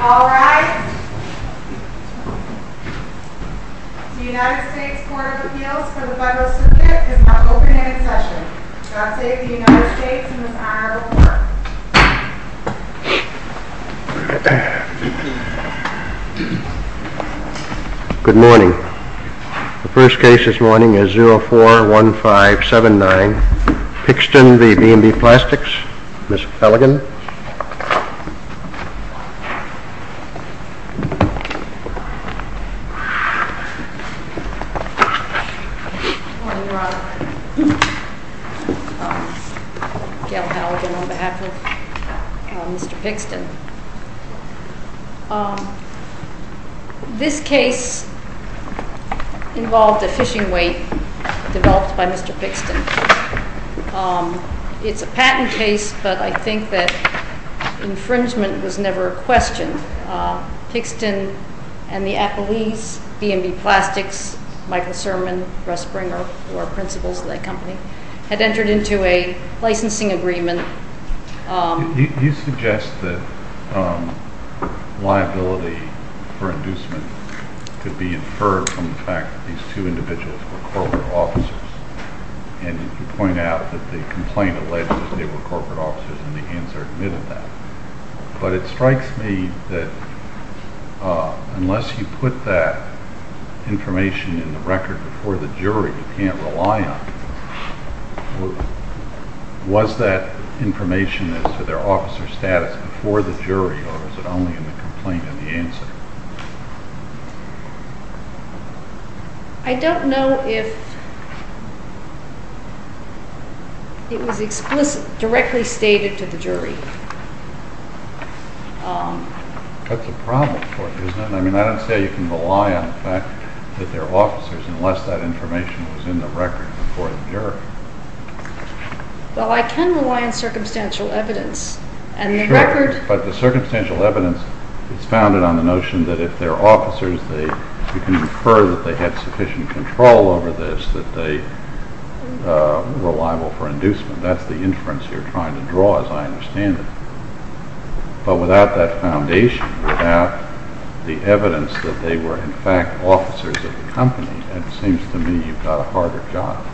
All rise. The United States Court of Appeals for the Federal Circuit is now open and in session. I now say to the United States in its honor to report. Good morning. The first case this morning is 041579, Pixton v. B&B Plastics. Ms. Halligan. Good morning, Your Honor. Gail Halligan on behalf of Mr. Pixton. This case involved a fishing weight developed by Mr. Pixton. It's a patent case, but I think that infringement was never questioned. Pixton and the appellees, B&B Plastics, Michael Sermon, Russ Springer, who are principals of that company, had entered into a licensing agreement. You suggest that liability for inducement could be inferred from the fact that these two individuals were corporate officers. And you point out that the complaint alleged that they were corporate officers and the hands are admitted that. But it strikes me that unless you put that information in the record before the jury, you can't rely on it. Was that information as to their officer status before the jury or was it only in the complaint in the answer? I don't know if it was explicitly stated to the jury. That's a problem for you, isn't it? I mean, I don't see how you can rely on the fact that they're officers unless that information was in the record before the jury. Well, I can rely on circumstantial evidence. But the circumstantial evidence is founded on the notion that if they're officers, you can infer that they had sufficient control over this, that they were liable for inducement. That's the inference you're trying to draw, as I understand it. But without that foundation, without the evidence that they were, in fact, officers of the company, it seems to me you've got a harder job.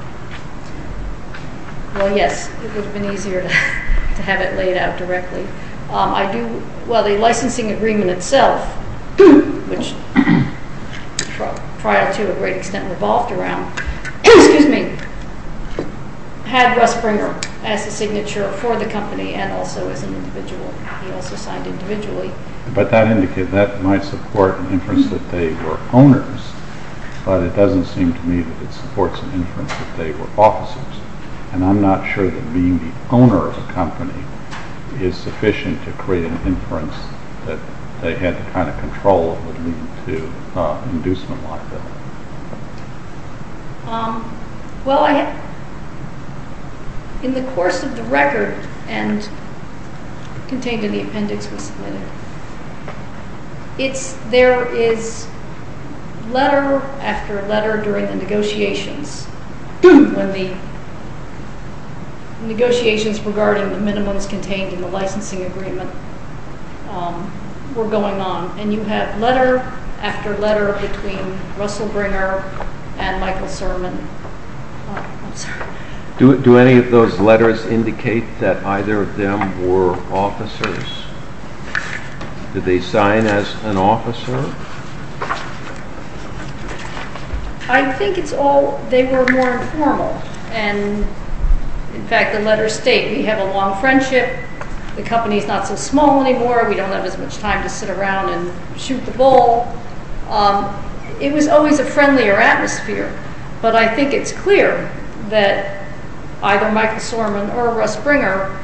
Well, yes, it would have been easier to have it laid out directly. Well, the licensing agreement itself, which trial to a great extent revolved around, had Russ Bringer as the signature for the company and also as an individual. He also signed individually. But that might support an inference that they were owners, but it doesn't seem to me that it supports an inference that they were officers. And I'm not sure that being the owner of the company is sufficient to create an inference that they had the kind of control over the need to inducement like that. Well, in the course of the record and contained in the appendix we submitted, there is letter after letter during the negotiations, when the negotiations regarding the minimums contained in the licensing agreement were going on. And you have letter after letter between Russell Bringer and Michael Sermon. Do any of those letters indicate that either of them were officers? Did they sign as an officer? I think it's all they were more informal. And in fact, the letters state, we have a long friendship. The company is not so small anymore. We don't have as much time to sit around and shoot the ball. It was always a friendlier atmosphere. But I think it's clear that either Michael Sermon or Russ Bringer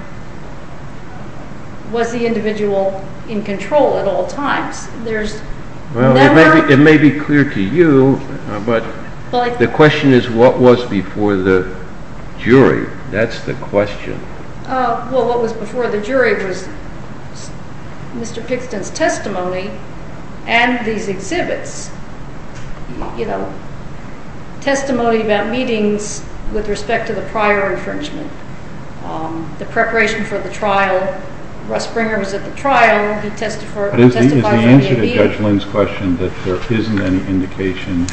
was the individual in control at all times. Well, it may be clear to you, but the question is what was before the jury? That's the question. Well, what was before the jury was Mr. Pickston's testimony and these exhibits. You know, testimony about meetings with respect to the prior infringement, the preparation for the trial. Is the answer to Judge Lynn's question that there isn't any indication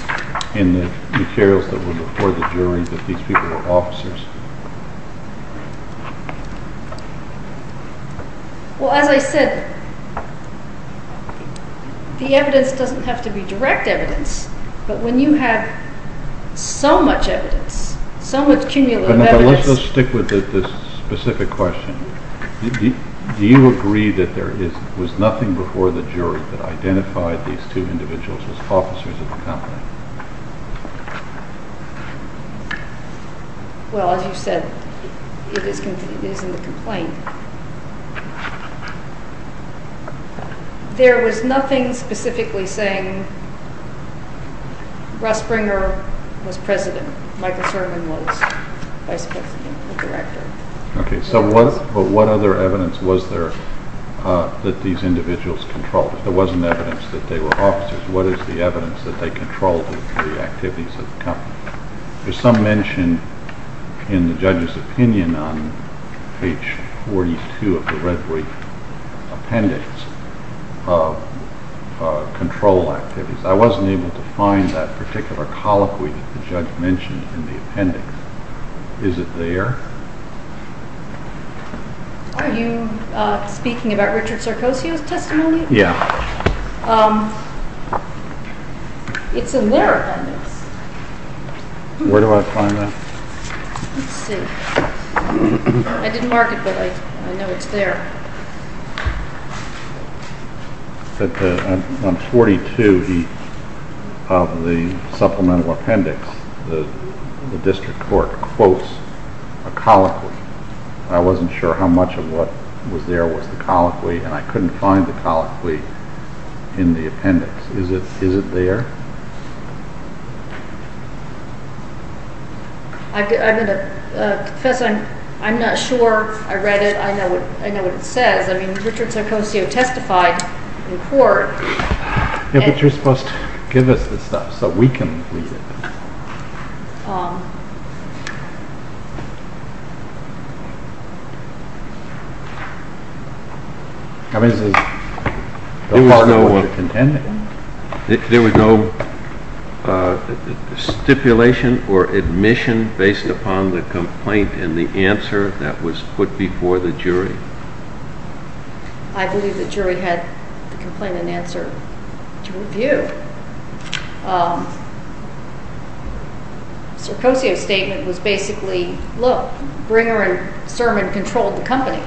in the materials that were before the jury that these people were officers? Well, as I said, the evidence doesn't have to be direct evidence. But when you have so much evidence, so much cumulative evidence… Was nothing before the jury that identified these two individuals as officers of the company? Well, as you said, it is in the complaint. There was nothing specifically saying Russ Bringer was president. Michael Sermon was vice president and director. Okay, so what other evidence was there that these individuals controlled? If there wasn't evidence that they were officers, what is the evidence that they controlled the activities of the company? There's some mention in the judge's opinion on page 42 of the red brief appendix of control activities. I wasn't able to find that particular colloquy that the judge mentioned in the appendix. Is it there? Are you speaking about Richard Sarkozy's testimony? Yeah. It's in their appendix. Where do I find that? Let's see. I didn't mark it, but I know it's there. On page 42 of the supplemental appendix, the district court quotes a colloquy. I wasn't sure how much of what was there was the colloquy, and I couldn't find the colloquy in the appendix. Is it there? Professor, I'm not sure. I read it. I know what it says. I mean, Richard Sarkozy testified in court. Yeah, but you're supposed to give us the stuff so we can read it. I mean, is it a part of what it intended? There was no stipulation or admission based upon the complaint and the answer that was put before the jury? I believe the jury had the complaint and answer to review. Sarkozy's statement was basically, look, Bringer and Sermon controlled the company.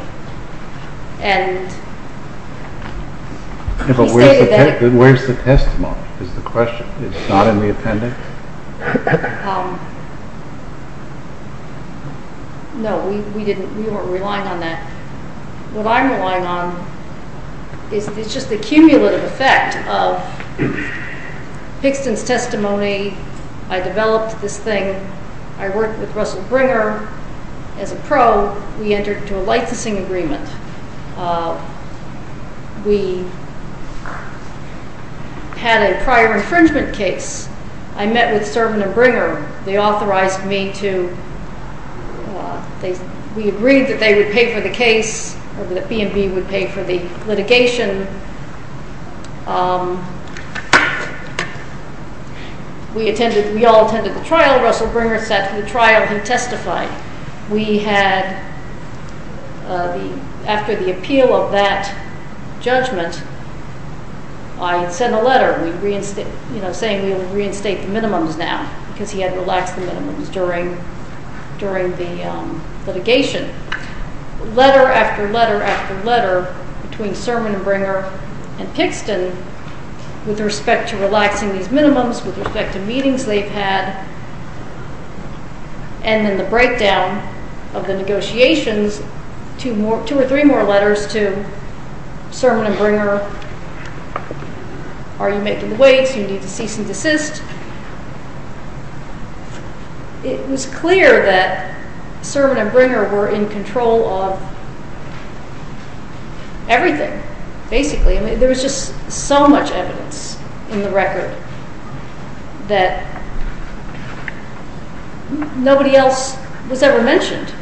But where's the testimony is the question. It's not in the appendix? No, we weren't relying on that. What I'm relying on is just the cumulative effect of Pixton's testimony. I developed this thing. I worked with Russell Bringer as a pro. We entered into a licensing agreement. We had a prior infringement case. I met with Sermon and Bringer. They authorized me to... We agreed that they would pay for the case, that B&B would pay for the litigation. We all attended the trial. Russell Bringer sat for the trial. He testified. After the appeal of that judgment, I sent a letter saying we would reinstate the minimums now because he had relaxed the minimums during the litigation. Letter after letter after letter between Sermon and Bringer and Pixton with respect to relaxing these minimums, with respect to meetings they've had, and then the breakdown of the negotiations, two or three more letters to Sermon and Bringer. Are you making the weights? Do you need to cease and desist? It was clear that Sermon and Bringer were in control of everything, basically. There was just so much evidence in the record that nobody else was ever mentioned.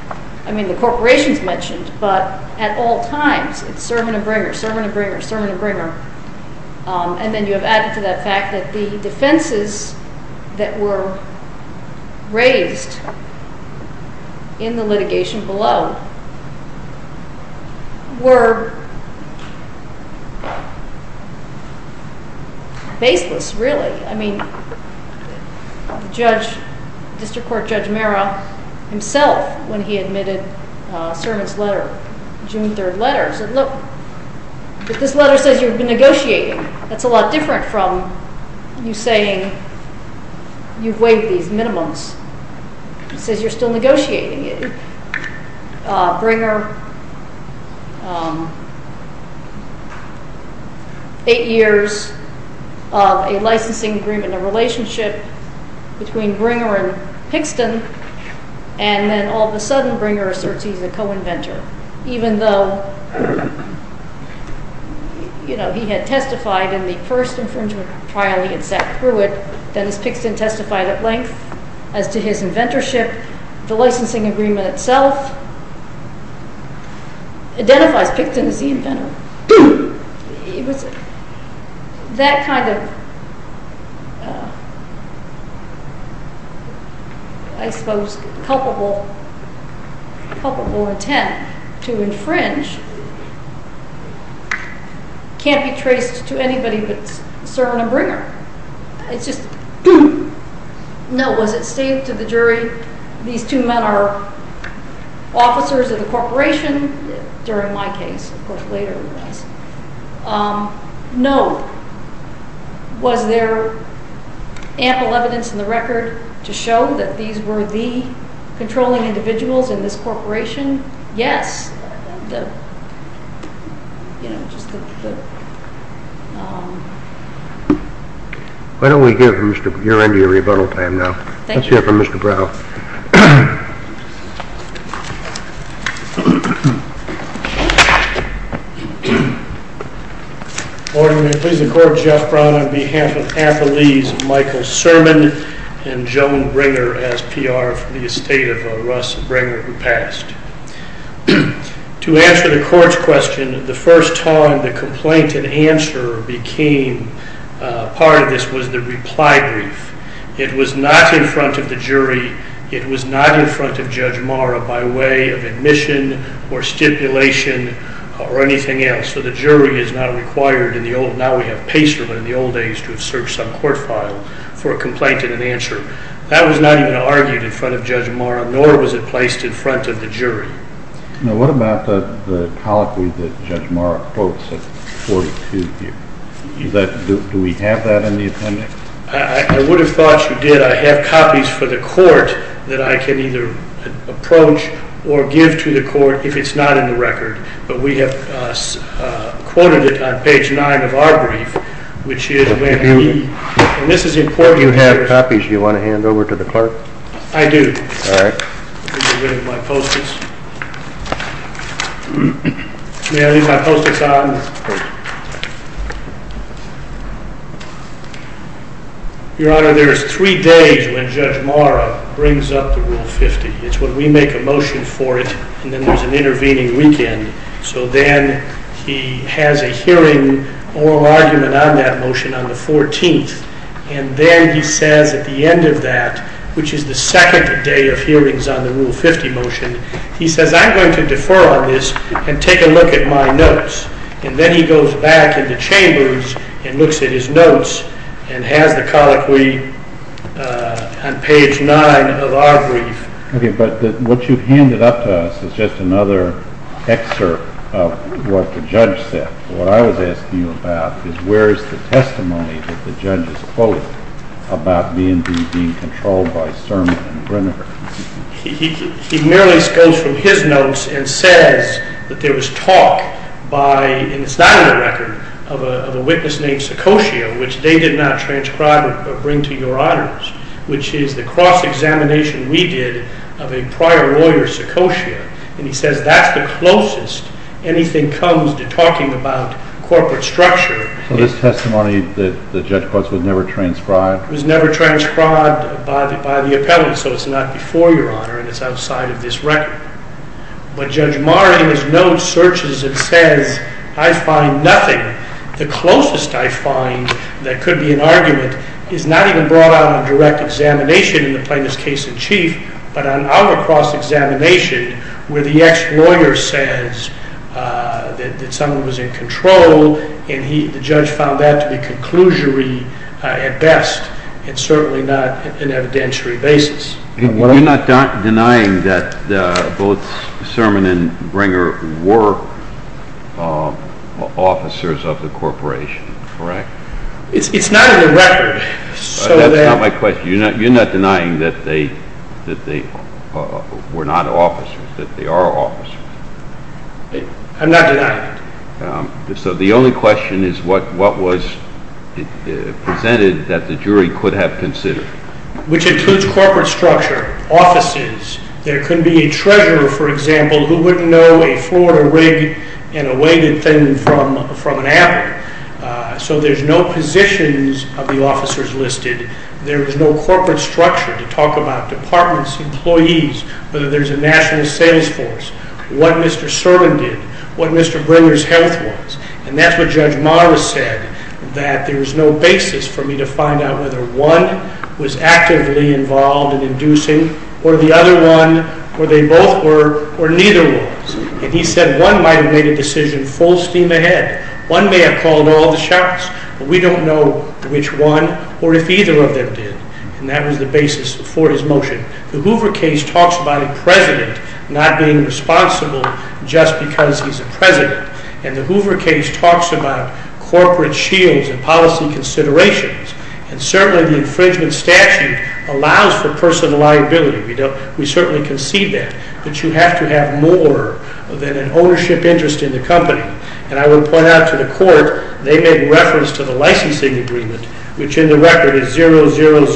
The corporations mentioned, but at all times, it's Sermon and Bringer, Sermon and Bringer, Sermon and Bringer. And then you have added to that fact that the defenses that were raised in the litigation below were baseless, really. I mean, District Court Judge Mera himself, when he admitted Sermon's letter, June 3rd letter, said, but this letter says you've been negotiating. That's a lot different from you saying you've waived these minimums. It says you're still negotiating. Bringer, eight years of a licensing agreement, a relationship between Bringer and Pixton, and then all of a sudden Bringer asserts he's a co-inventor, even though he had testified in the first infringement trial, he had sat through it. Dennis Pixton testified at length as to his inventorship. The licensing agreement itself identifies Pixton as the inventor. That kind of, I suppose, culpable intent to infringe can't be traced to anybody but Sermon and Bringer. It's just, no, was it stated to the jury these two men are officers of the corporation? During my case, of course, later in the case. No. Was there ample evidence in the record to show that these were the controlling individuals in this corporation? Yes. Why don't we give your end of your rebuttal time now. Let's hear from Mr. Brown. Order. May it please the Court. Jeff Brown on behalf of Anthony's Michael Sermon and Joan Bringer as PR for the estate of Russ Bringer who passed. To answer the Court's question, the first time the complaint and answer became part of this was the reply brief. It was not in front of the jury. It was not in front of Judge Marra by way of admission or stipulation or anything else. So the jury is not required in the old, now we have PACER, but in the old days to have searched some court file for a complaint and an answer. That was not even argued in front of Judge Marra, nor was it placed in front of the jury. Now what about the colloquy that Judge Marra quotes at 42 here? Do we have that in the appendix? I would have thought you did. I have copies for the Court that I can either approach or give to the Court if it's not in the record. But we have quoted it on page 9 of our brief, which is when he, and this is important. You have copies you want to hand over to the Clerk? I do. All right. Let me get rid of my Post-its. May I leave my Post-its on? Your Honor, there is three days when Judge Marra brings up the Rule 50. It's when we make a motion for it, and then there's an intervening weekend. So then he has a hearing, oral argument on that motion on the 14th, and then he says at the end of that, which is the second day of hearings on the Rule 50 motion, he says, I'm going to defer on this and take a look at my notes. And then he goes back in the chambers and looks at his notes and has the colloquy on page 9 of our brief. Okay. But what you've handed up to us is just another excerpt of what the judge said. What I was asking you about is where is the testimony that the judge has quoted about B&B being controlled by Sermon and Grinever? He merely goes from his notes and says that there was talk by, and it's not in the record, of a witness named Seccosio, which they did not transcribe or bring to your honors, which is the cross-examination we did of a prior lawyer, Seccosio. And he says that's the closest anything comes to talking about corporate structure. So this testimony that the judge quotes was never transcribed? It was never transcribed by the appellate. So it's not before your honor, and it's outside of this record. But Judge Maher, in his notes, searches and says, I find nothing. The closest I find that could be an argument is not even brought out in direct examination in the plaintiff's case in chief, but on our cross-examination where the ex-lawyer says that someone was in control, and the judge found that to be conclusory at best and certainly not an evidentiary basis. You're not denying that both Sermon and Bringer were officers of the corporation, correct? It's not in the record. That's not my question. You're not denying that they were not officers, that they are officers? I'm not denying it. So the only question is what was presented that the jury could have considered? Which includes corporate structure, offices. There couldn't be a treasurer, for example, who wouldn't know a Florida rig and a weighted thing from an appellate. So there's no positions of the officers listed. There was no corporate structure to talk about departments, employees, whether there's a national sales force, what Mr. Sermon did, what Mr. Bringer's health was. And that's what Judge Morris said, that there was no basis for me to find out whether one was actively involved in inducing or the other one, or they both were, or neither was. And he said one might have made a decision full steam ahead. One may have called all the shots, but we don't know which one or if either of them did. And that was the basis for his motion. The Hoover case talks about a president not being responsible just because he's a president. And the Hoover case talks about corporate shields and policy considerations. And certainly the infringement statute allows for personal liability. We certainly concede that. But you have to have more than an ownership interest in the company. And I will point out to the court, they made reference to the licensing agreement, which in the record is 00038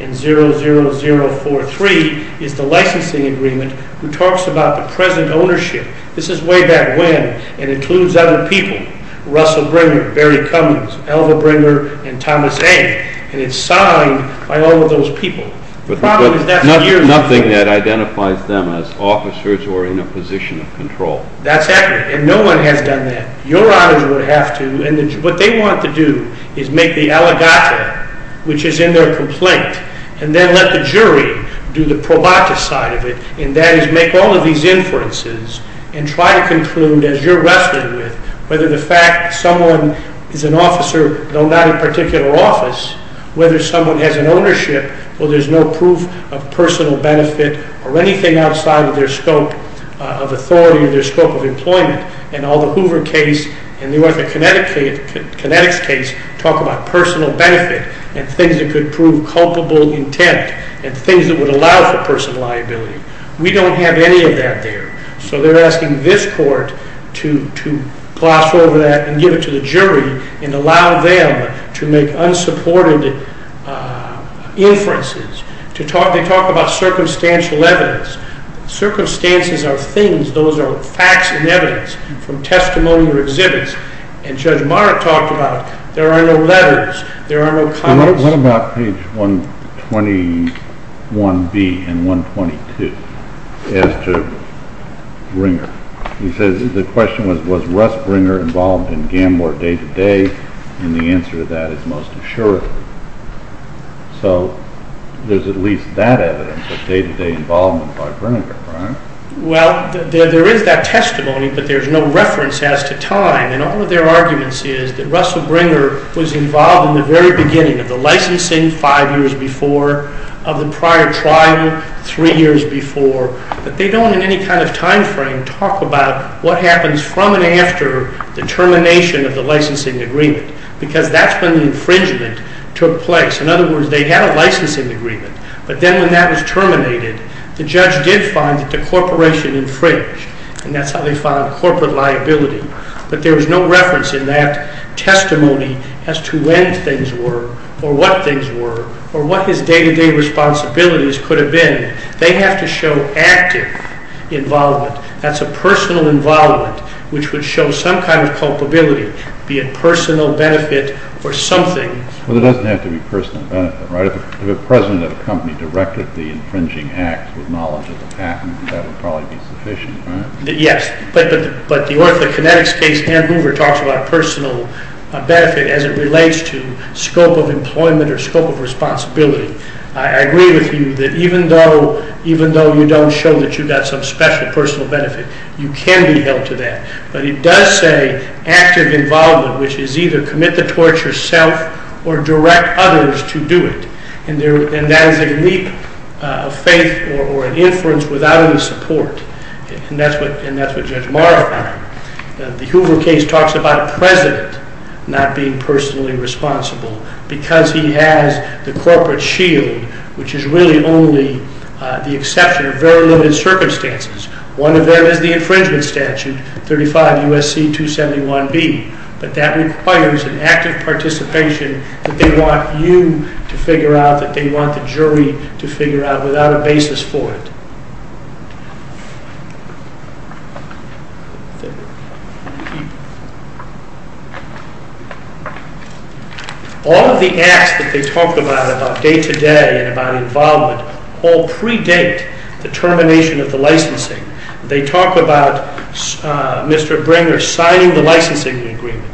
and 00043, is the licensing agreement who talks about the present ownership. This is way back when and includes other people, Russell Bringer, Barry Cummings, Alva Bringer, and Thomas A. And it's signed by all of those people. The problem is that's years ago. But nothing that identifies them as officers or in a position of control. That's accurate. And no one has done that. Your honors would have to. And what they want to do is make the aligata, which is in their complaint, and then let the jury do the probata side of it. And that is make all of these inferences and try to conclude, as you're wrestling with, whether the fact someone is an officer, though not in a particular office, whether someone has an ownership where there's no proof of personal benefit or anything outside of their scope of authority or their scope of employment. And all the Hoover case and the Connecticut case talk about personal benefit and things that could prove culpable intent and things that would allow for personal liability. We don't have any of that there. So they're asking this court to gloss over that and give it to the jury and allow them to make unsupported inferences. They talk about circumstantial evidence. Circumstances are things. Those are facts and evidence from testimony or exhibits. And Judge Maher talked about it. There are no letters. There are no comments. What about page 121B and 122 as to Bringer? He says the question was, was Russ Bringer involved in GAMOR day-to-day? And the answer to that is most assuredly. So there's at least that evidence of day-to-day involvement by Bringer, right? Well, there is that testimony, but there's no reference as to time. And all of their arguments is that Russell Bringer was involved in the very beginning of the licensing five years before, of the prior trial three years before. But they don't in any kind of time frame talk about what happens from and after the termination of the licensing agreement, because that's when the infringement took place. In other words, they had a licensing agreement, but then when that was terminated, the judge did find that the corporation infringed, and that's how they filed corporate liability. But there was no reference in that testimony as to when things were or what things were or what his day-to-day responsibilities could have been. They have to show active involvement. That's a personal involvement which would show some kind of culpability, be it personal benefit or something. Well, there doesn't have to be personal benefit, right? If a president of a company directed the infringing act with knowledge of the patent, that would probably be sufficient, right? Yes, but the orthokinetics case, Hand Hoover talks about personal benefit as it relates to scope of employment or scope of responsibility. I agree with you that even though you don't show that you've got some special personal benefit, you can be held to that. But he does say active involvement, which is either commit the torture yourself or direct others to do it. And that is a leap of faith or an inference without any support, and that's what Judge Morrow found. The Hoover case talks about a president not being personally responsible because he has the corporate shield, which is really only the exception of very limited circumstances. One of them is the infringement statute, 35 U.S.C. 271B, but that requires an active participation that they want you to figure out, that they want the jury to figure out without a basis for it. All of the acts that they talk about, about day-to-day and about involvement, all predate the termination of the licensing. They talk about Mr. Bringer signing the licensing agreement.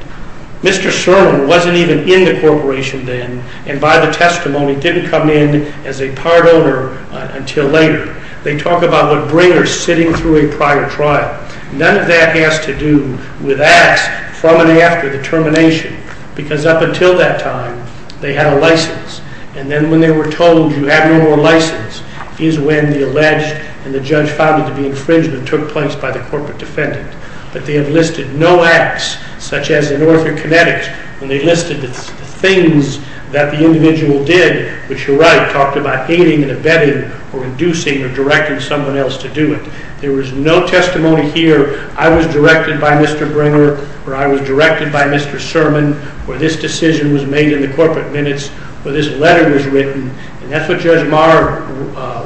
Mr. Sherman wasn't even in the corporation then, and by the testimony didn't come in as a part owner until later. They talk about what Bringer's sitting through a prior trial. None of that has to do with acts from and after the termination because up until that time they had a license, and then when they were told you have no more license is when the alleged and the judge found it to be infringement took place by the corporate defendant. But they have listed no acts such as an orthokinetic, and they listed the things that the individual did, which you're right, talked about hating and abetting or inducing or directing someone else to do it. There was no testimony here, I was directed by Mr. Bringer or I was directed by Mr. Sherman, where this decision was made in the corporate minutes, where this letter was written, and that's what Judge Maher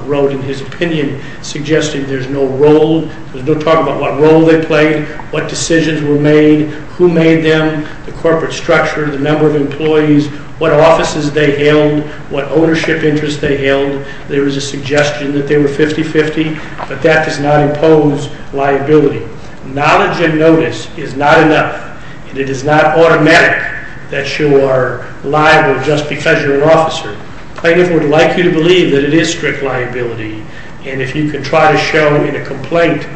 wrote in his opinion, suggesting there's no role. There's no talk about what role they played, what decisions were made, who made them, the corporate structure, the number of employees, what offices they held, what ownership interests they held. There was a suggestion that they were 50-50, but that does not impose liability. Knowledge and notice is not enough, and it is not automatic that you are liable just because you're an officer. Plaintiff would like you to believe that it is strict liability, and if you can try to show in a complaint,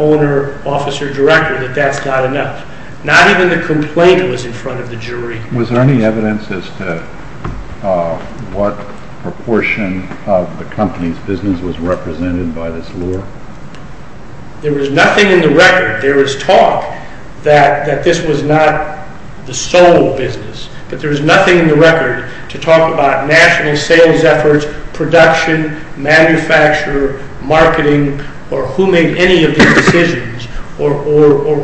owner, officer, director, that that's not enough. Not even the complaint was in front of the jury. Was there any evidence as to what proportion of the company's business was represented by this lure? There was nothing in the record. There was talk that this was not the sole business, but there was nothing in the record to talk about national sales efforts, production, manufacture, marketing, or who made any of these decisions, or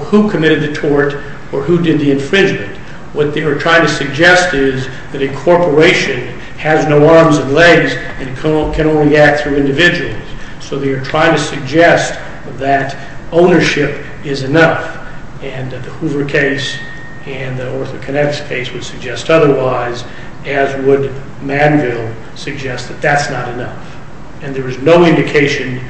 who committed the tort, or who did the infringement. What they were trying to suggest is that a corporation has no arms and legs and can only act through individuals. So they are trying to suggest that ownership is enough, and that the Hoover case and the OrthoConnects case would suggest otherwise, as would Manville suggest that that's not enough. And there is no indication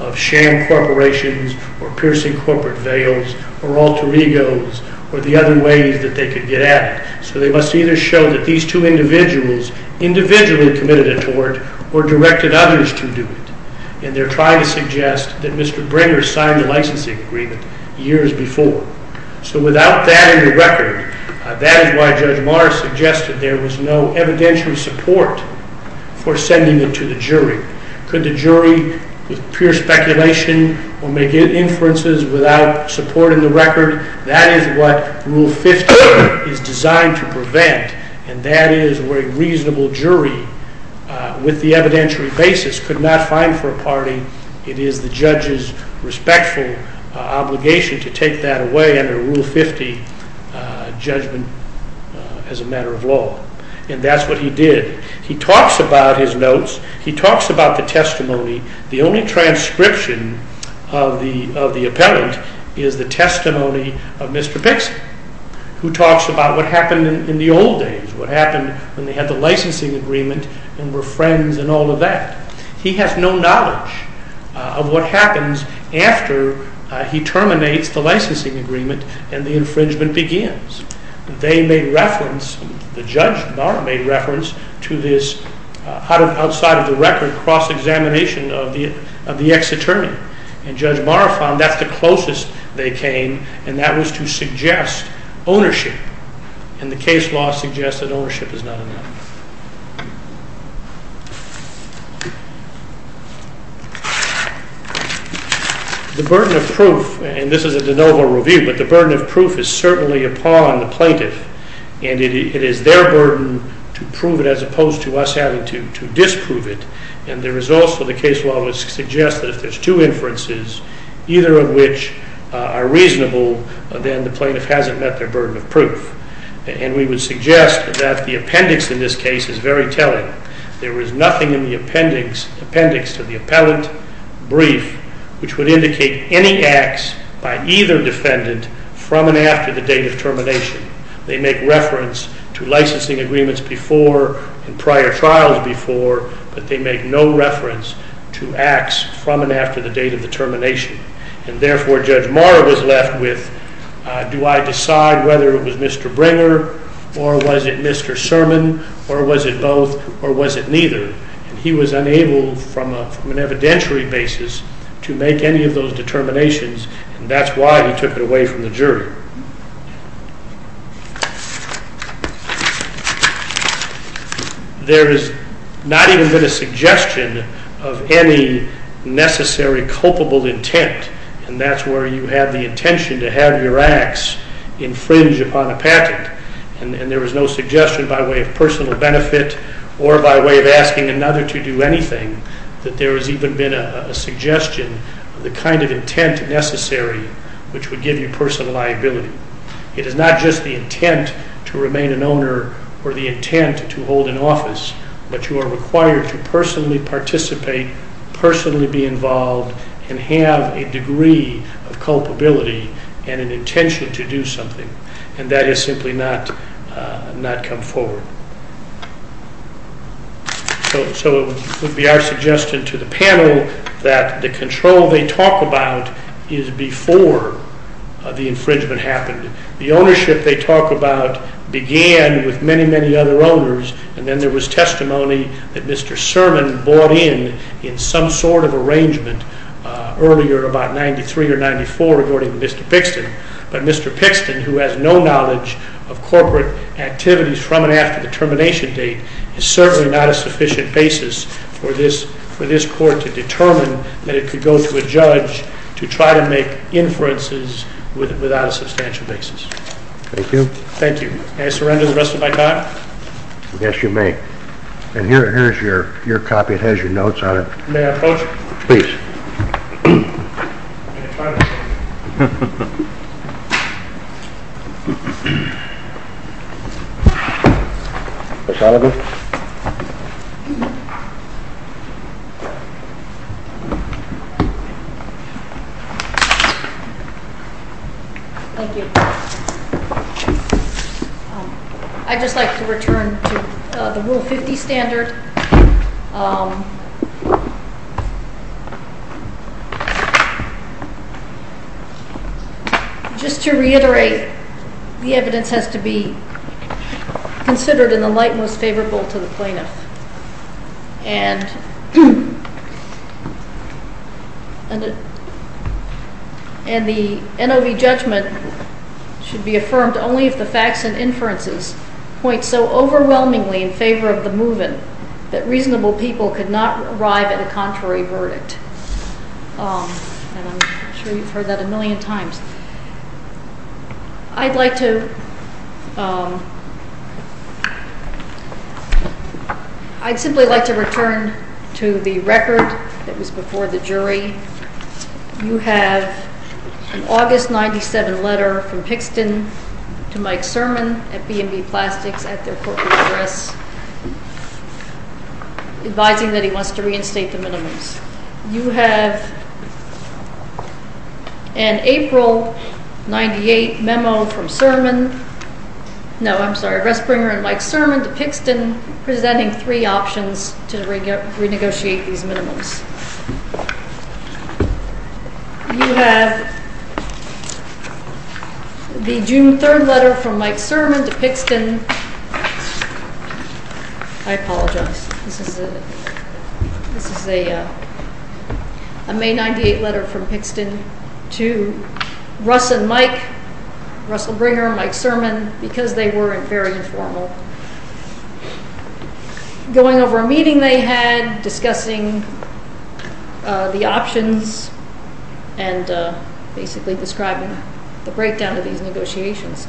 of sham corporations or piercing corporate veils or alter egos or the other ways that they could get at it. So they must either show that these two individuals individually committed a tort or directed others to do it, and they're trying to suggest that Mr. Bringer signed the licensing agreement years before. So without that in the record, that is why Judge Morris suggested there was no evidentiary support for sending it to the jury. Could the jury, with pure speculation, or make inferences without support in the record? That is what Rule 15 is designed to prevent, and that is where a reasonable jury with the evidentiary basis could not find for a party. It is the judge's respectful obligation to take that away under Rule 50 judgment as a matter of law. And that's what he did. He talks about his notes. He talks about the testimony. The only transcription of the appellant is the testimony of Mr. Pixley, who talks about what happened in the old days, what happened when they had the licensing agreement and were friends and all of that. He has no knowledge of what happens after he terminates the licensing agreement and the infringement begins. They made reference, the judge made reference to this, outside of the record, cross-examination of the ex-attorney. And Judge Maurer found that's the closest they came, and that was to suggest ownership. And the case law suggests that ownership is not enough. The burden of proof, and this is a de novo review, but the burden of proof is certainly upon the plaintiff, and it is their burden to prove it as opposed to us having to disprove it. And there is also the case law which suggests that if there's two inferences, either of which are reasonable, then the plaintiff hasn't met their burden of proof. And we would suggest that the appendix in this case is very telling. There is nothing in the appendix to the appellant brief which would indicate any acts by either defendant from and after the date of termination. They make reference to licensing agreements before and prior trials before, but they make no reference to acts from and after the date of the termination. And therefore Judge Maurer was left with, do I decide whether it was Mr. Bringer, or was it Mr. Sermon, or was it both, or was it neither? And he was unable from an evidentiary basis to make any of those determinations, and that's why he took it away from the jury. There has not even been a suggestion of any necessary culpable intent, and that's where you have the intention to have your acts infringe upon a patent. And there was no suggestion by way of personal benefit or by way of asking another to do anything that there has even been a suggestion of the kind of intent necessary which would give you personal liability. It is not just the intent to remain an owner or the intent to hold an office, but you are required to personally participate, personally be involved, and have a degree of culpability and an intention to do something, and that has simply not come forward. So it would be our suggestion to the panel that the control they talk about is before the infringement happened. The ownership they talk about began with many, many other owners, and then there was testimony that Mr. Sermon bought in in some sort of arrangement earlier, about 1993 or 1994, regarding Mr. Pixton. But Mr. Pixton, who has no knowledge of corporate activities from and after the termination date, is certainly not a sufficient basis for this court to determine that it could go to a judge to try to make inferences without a substantial basis. Thank you. Thank you. May I surrender the rest of my time? Yes, you may. And here is your copy. It has your notes on it. May I approach? Please. Mr. Oliver? Thank you. I'd just like to return to the Rule 50 standard. Just to reiterate, the evidence has to be considered in the light most favorable to the plaintiff. And the NOV judgment should be affirmed only if the facts and inferences point so overwhelmingly in favor of the move-in that reasonable people could not arrive at a contrary verdict. And I'm sure you've heard that a million times. I'd like to return to the record that was before the jury. You have an August 1997 letter from Pixton to Mike Sermon at B&B Plastics at their corporate address, advising that he wants to reinstate the minimums. You have an April 1998 memo from Sermon, no, I'm sorry, Ressbringer and Mike Sermon to Pixton presenting three options to renegotiate these minimums. You have the June 3rd letter from Mike Sermon to Pixton. I apologize. This is a May 1998 letter from Pixton to Russ and Mike, Ressbringer, Mike Sermon, because they were very informal, going over a meeting they had, discussing the options, and basically describing the breakdown of these negotiations.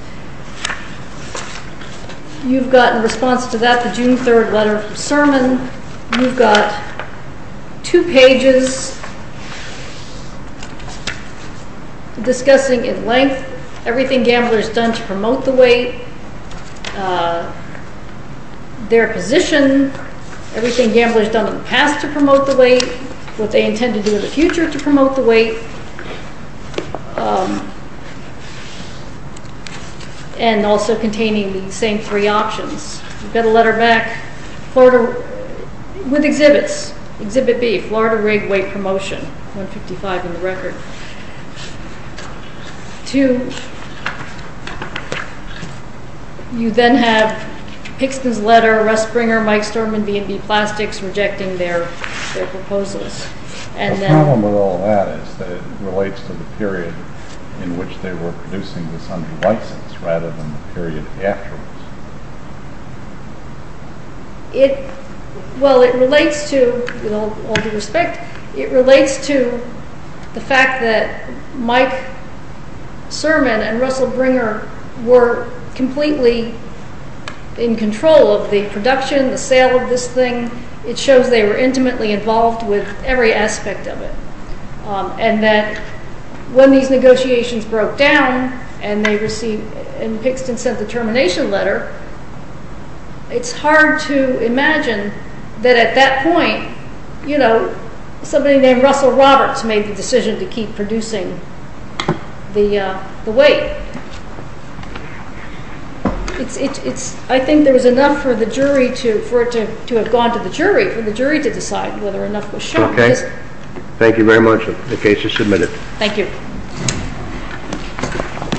You've got in response to that the June 3rd letter from Sermon, you've got two pages discussing in length everything Gambler's done to promote the weight, their position, everything Gambler's done in the past to promote the weight, what they intend to do in the future to promote the weight, and also containing the same three options. You've got a letter back with exhibits, Exhibit B, Florida Rig Weight Promotion, 155 in the record. You then have Pixton's letter, Ressbringer, Mike Sermon, B&B Plastics rejecting their proposals. The problem with all that is that it relates to the period in which they were producing this under license, rather than the period afterwards. Well, it relates to, with all due respect, it relates to the fact that Mike Sermon and Ressbringer were completely in control of the production, the sale of this thing. It shows they were intimately involved with every aspect of it, and that when these negotiations broke down and they received, and Pixton sent the termination letter, it's hard to imagine that at that point, you know, somebody named Russell Roberts made the decision to keep producing the weight. I think there was enough for the jury to, for it to have gone to the jury, for the jury to decide whether enough was shown. Okay. Thank you very much. The case is submitted. Thank you.